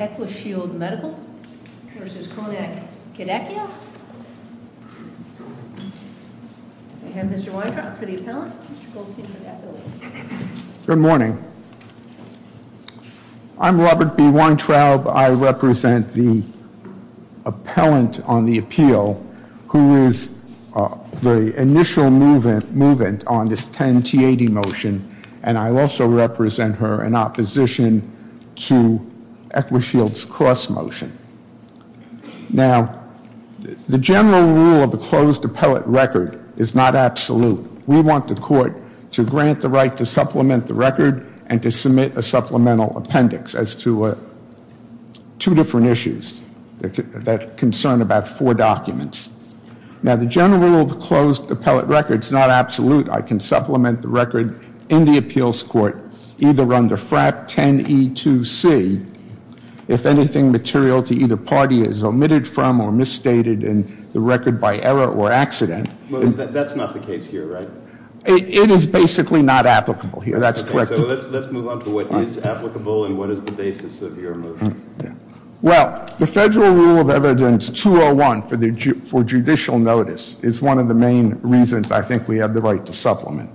Good morning. I'm Robert B. Weintraub. I represent the appellant on the appeal who is the initial movement on this 10 T-80 motion and I also represent her in opposition to Eckershield's cross motion. Now the general rule of the closed appellate record is not absolute. We want the court to grant the right to supplement the record and to submit a supplemental appendix as to two different issues that concern about four documents. Now the general rule of the closed appellate record is not absolute. I can supplement the record in the appeals court either under FRAP 10 E2C if anything material to either party is omitted from or misstated in the record by error or accident. That's not the case here, right? It is basically not applicable here. That's correct. Let's move on to what is applicable and what is the basis of your motion. Well, the federal rule of evidence 201 for judicial notice is one of the main reasons I think we have the right to supplement.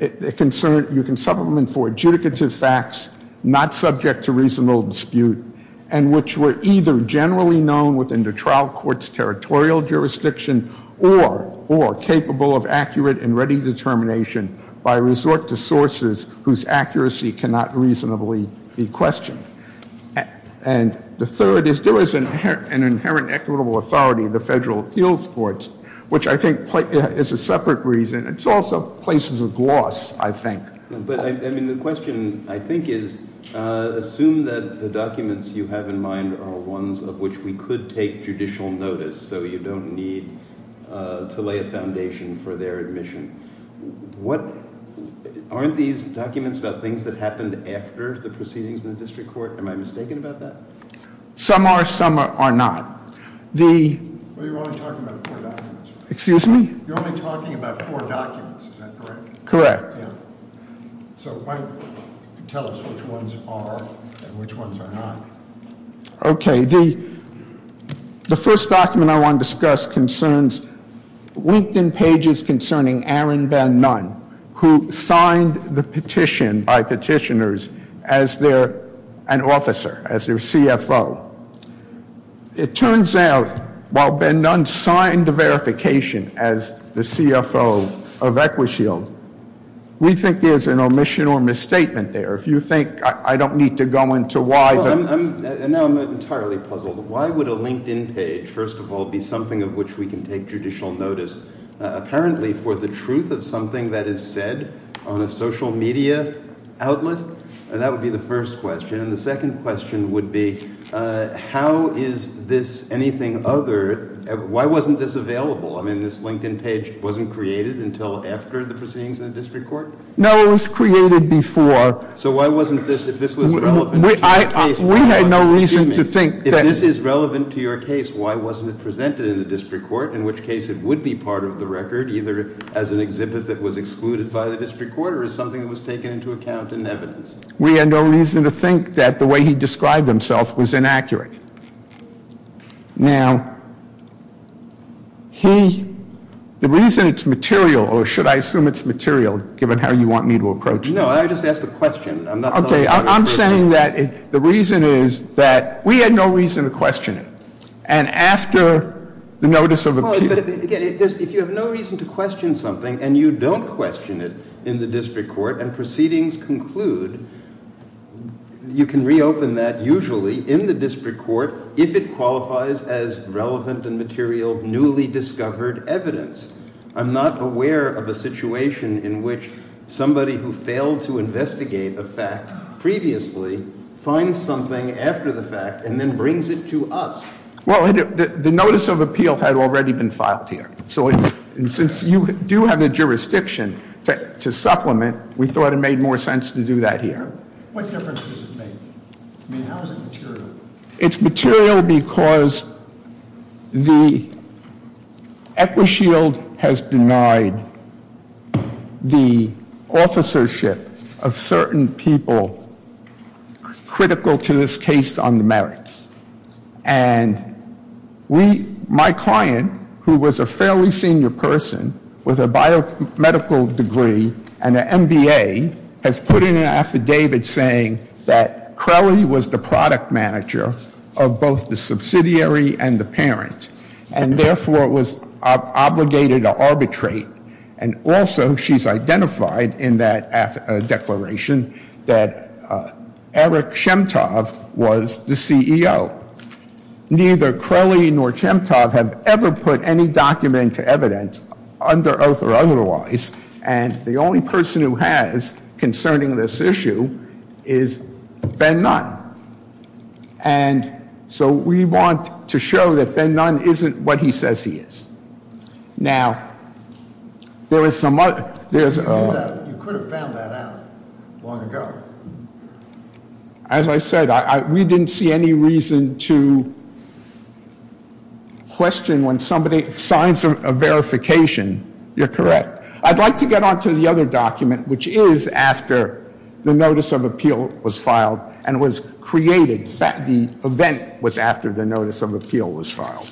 You can supplement for adjudicative facts not subject to reasonable dispute and which were either generally known within the trial court's territorial jurisdiction or capable of accurate and ready determination by resort to sources whose accuracy cannot reasonably be questioned. And the third is there is an inherent equitable authority in the federal appeals courts, which I think is a separate reason. It's also places of gloss, I think. But I mean the question I think is assume that the documents you have in mind are ones of which we could take judicial notice so you don't need to lay a foundation for their admission. What aren't these documents about things that happened after the proceedings in Some are, some are not. Well, you're only talking about four documents. Excuse me? You're only talking about four documents, is that correct? Correct. So why don't you tell us which ones are and which ones are not. Okay, the first document I want to discuss concerns LinkedIn pages concerning Aaron Van Nunn who signed the petition by the executive CFO. It turns out while Van Nunn signed the verification as the CFO of Equishield, we think there's an omission or misstatement there. If you think, I don't need to go into why. Now I'm entirely puzzled. Why would a LinkedIn page, first of all, be something of which we can take judicial notice apparently for the truth of something that is said on a social media outlet? And that would be the first question. The second question would be, how is this anything other? Why wasn't this available? I mean, this LinkedIn page wasn't created until after the proceedings in the district court? No, it was created before. So why wasn't this, if this was relevant to your case, why wasn't it presented in the district court? In which case it would be part of the record, either as an exhibit that was excluded by the district court or as something that was taken into account in evidence. We had no reason to think that the way he described himself was inaccurate. Now, he, the reason it's material, or should I assume it's material, given how you want me to approach this. No, I just asked a question. Okay, I'm saying that the reason is that we had no reason to question it. And after the notice of appeal. But again, if you have no reason to question something and you don't question it in the district court and proceedings conclude, you can reopen that usually in the district court if it qualifies as relevant and material, newly discovered evidence. I'm not aware of a situation in which somebody who failed to investigate a fact previously finds something after the fact and then brings it to us. Well, the notice of appeal had already been filed here. So since you do have the jurisdiction to supplement, we thought it made more sense to do that here. What difference does it make? I mean, how is it material? It's material because the Equishield has denied the officership of certain people critical to this case on the merits. And my client, who was a fairly senior person with a biomedical degree and an MBA, has put in an affidavit saying that Crelly was the product manager of both the subsidiary and the parent. And therefore, it was obligated to arbitrate. And also, she's identified in that declaration that Eric Shemtov was the CEO. Neither Crelly nor Shemtov have ever put any document into evidence, under oath or otherwise. And the only person who has concerning this issue is Ben Nunn. And so we want to show that Ben Nunn isn't what he says he is. Now, there is some other... You could have found that out long ago. As I said, we didn't see any reason to question when somebody signs a verification. You're correct. I'd like to get on to the other document, which is after the Notice of Appeal was filed and was created. The event was after the Notice of Appeal was filed.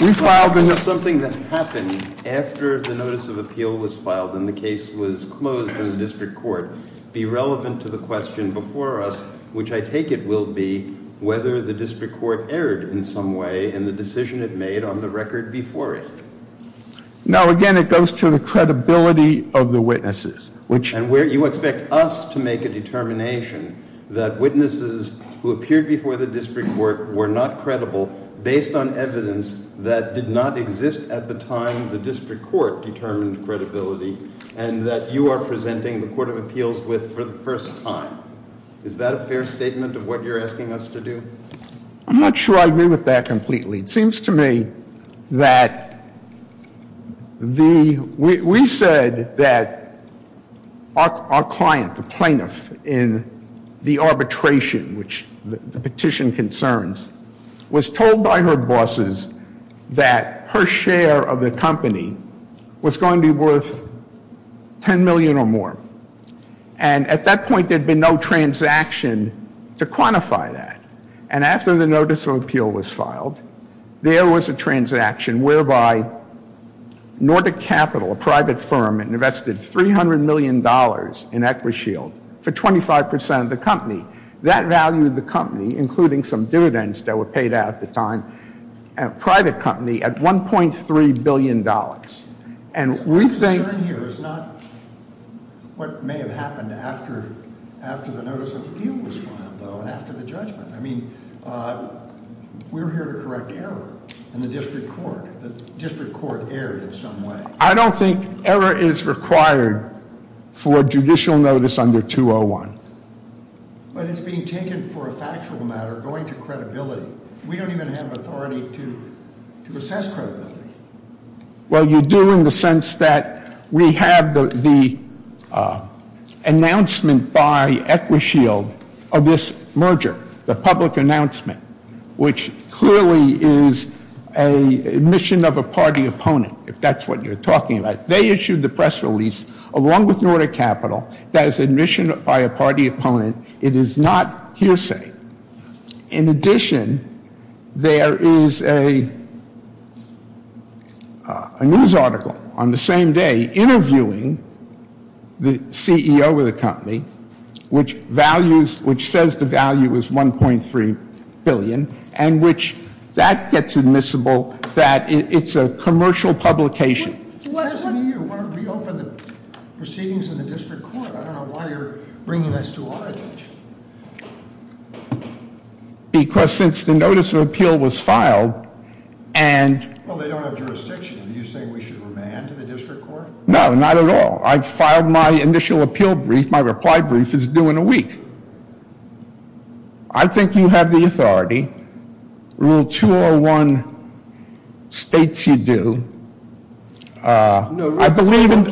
We filed into something that happened after the Notice of Appeal was filed and the case was closed in the district court. Be relevant to the question before us, which I take it will be whether the district court erred in some way in the decision it made on the record before it. Now, again, it goes to the credibility of the witnesses. You expect us to make a determination that witnesses who appeared before the district court were not credible based on evidence that did not exist at the time the district court determined credibility and that you are presenting the Court of Appeals with for the first time. Is that a fair statement of what you're asking us to do? I'm not sure I agree with that completely. It seems to me that we said that our client, the plaintiff in the arbitration, which the petition concerns, was told by her bosses that her share of the company was going to be worth $10 million or more. And at that point, there had been no transaction to quantify that. And after the Notice of Appeal was filed, there was a transaction whereby Nordic Capital, a private firm, invested $300 million in Equishield for 25% of the company. That valued the company, including some dividends that were paid out at the time, private company, at $1.3 billion. The concern here is not what may have happened after the Notice of Appeal was filed, though, and after the judgment. I mean, we're here to correct error in the district court. The district court erred in some way. I don't think error is required for a judicial notice under 201. But it's being taken for a factual matter, going to credibility. We don't even have authority to assess credibility. Well, you do in the sense that we have the announcement by Equishield of this merger, the public announcement, which clearly is an admission of a party opponent, if that's what you're talking about. They issued the press release, along with Nordic Capital, that is admission by a party opponent. It is not hearsay. In addition, there is a news article on the same day interviewing the CEO of the company, which says the value is $1.3 billion, and that gets admissible that it's a commercial publication. It says to me you want to reopen the proceedings in the district court. I don't know why you're bringing this to our attention. Because since the Notice of Appeal was filed and— Well, they don't have jurisdiction. Are you saying we should remand to the district court? No, not at all. I filed my initial appeal brief. I think you have the authority. Rule 201 states you do. I believe in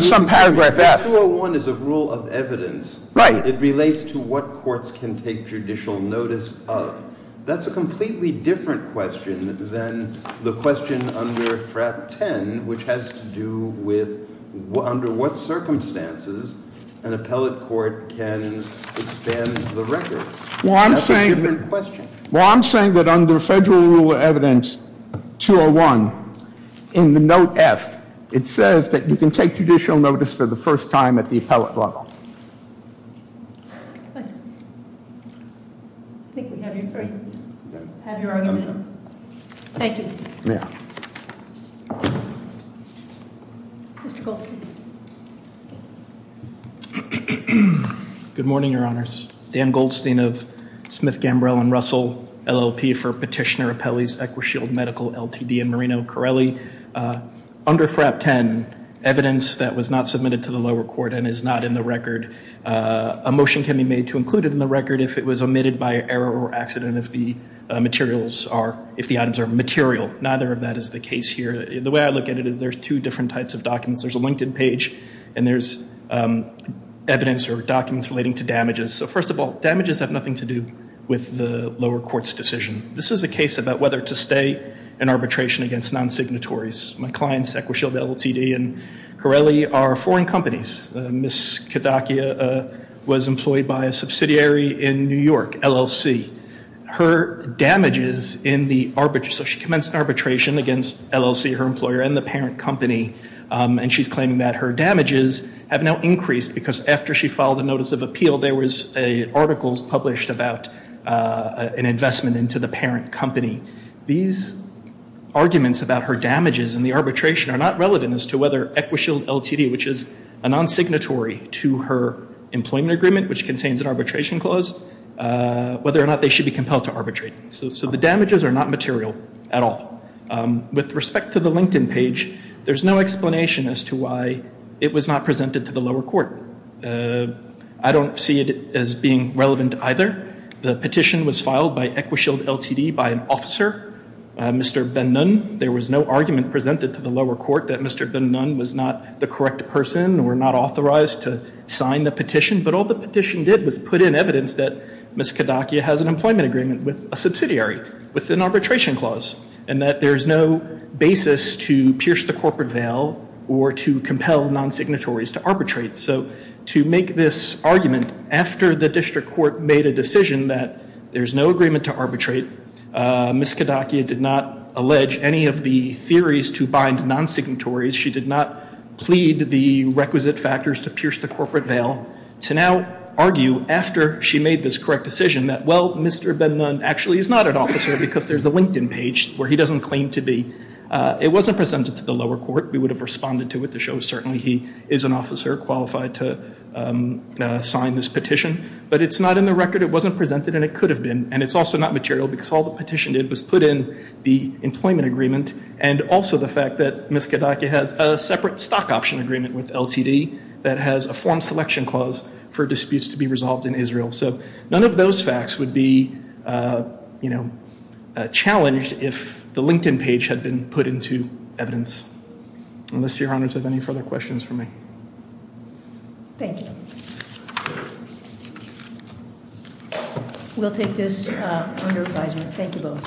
some paragraph. Rule 201 is a rule of evidence. It relates to what courts can take judicial notice of. That's a completely different question than the question under FRAP 10, which has to do with under what circumstances an appellate court can expand the record. That's a different question. Well, I'm saying that under Federal Rule of Evidence 201 in the Note F, it says that you can take judicial notice for the first time at the appellate level. I think we have your argument. Thank you. Yeah. Mr. Goldstein. Good morning, Your Honors. Dan Goldstein of Smith, Gambrell, and Russell, LLP for Petitioner Appellees, Equishield Medical, LTD, and Marino Carelli. Under FRAP 10, evidence that was not submitted to the lower court and is not in the record, a motion can be made to include it in the record if it was omitted by error or accident if the items are material. Neither of that is the case here. The way I look at it is there's two different types of documents. There's a LinkedIn page, and there's evidence or documents relating to damages. So, first of all, damages have nothing to do with the lower court's decision. This is a case about whether to stay in arbitration against non-signatories. My clients, Equishield, LLTD, and Carelli, are foreign companies. Ms. Kadakia was employed by a subsidiary in New York, LLC. Her damages in the arbitrage, so she commenced arbitration against LLC, her employer, and the parent company, and she's claiming that her damages have now increased because after she filed a notice of appeal, there was articles published about an investment into the parent company. These arguments about her damages and the arbitration are not relevant as to whether Equishield, LLTD, which is a non-signatory to her employment agreement, which contains an arbitration clause, whether or not they should be compelled to arbitrate. So the damages are not material at all. With respect to the LinkedIn page, there's no explanation as to why it was not presented to the lower court. I don't see it as being relevant either. The petition was filed by Equishield, LLTD, by an officer, Mr. Ben Nunn. There was no argument presented to the lower court that Mr. Ben Nunn was not the correct person or not authorized to sign the petition, but all the petition did was put in evidence that Ms. Kadakia has an employment agreement with a subsidiary with an arbitration clause and that there's no basis to pierce the corporate veil or to compel non-signatories to arbitrate. So to make this argument after the district court made a decision that there's no agreement to arbitrate, Ms. Kadakia did not allege any of the theories to bind non-signatories. She did not plead the requisite factors to pierce the corporate veil. To now argue after she made this correct decision that, well, Mr. Ben Nunn actually is not an officer because there's a LinkedIn page where he doesn't claim to be, it wasn't presented to the lower court. We would have responded to it to show certainly he is an officer qualified to sign this petition, but it's not in the record, it wasn't presented, and it could have been, and it's also not material because all the petition did was put in the employment agreement and also the fact that Ms. Kadakia has a separate stock option agreement with LTD that has a form selection clause for disputes to be resolved in Israel. So none of those facts would be challenged if the LinkedIn page had been put into evidence. Unless your honors have any further questions for me. Thank you. We'll take this under advisement. Thank you both.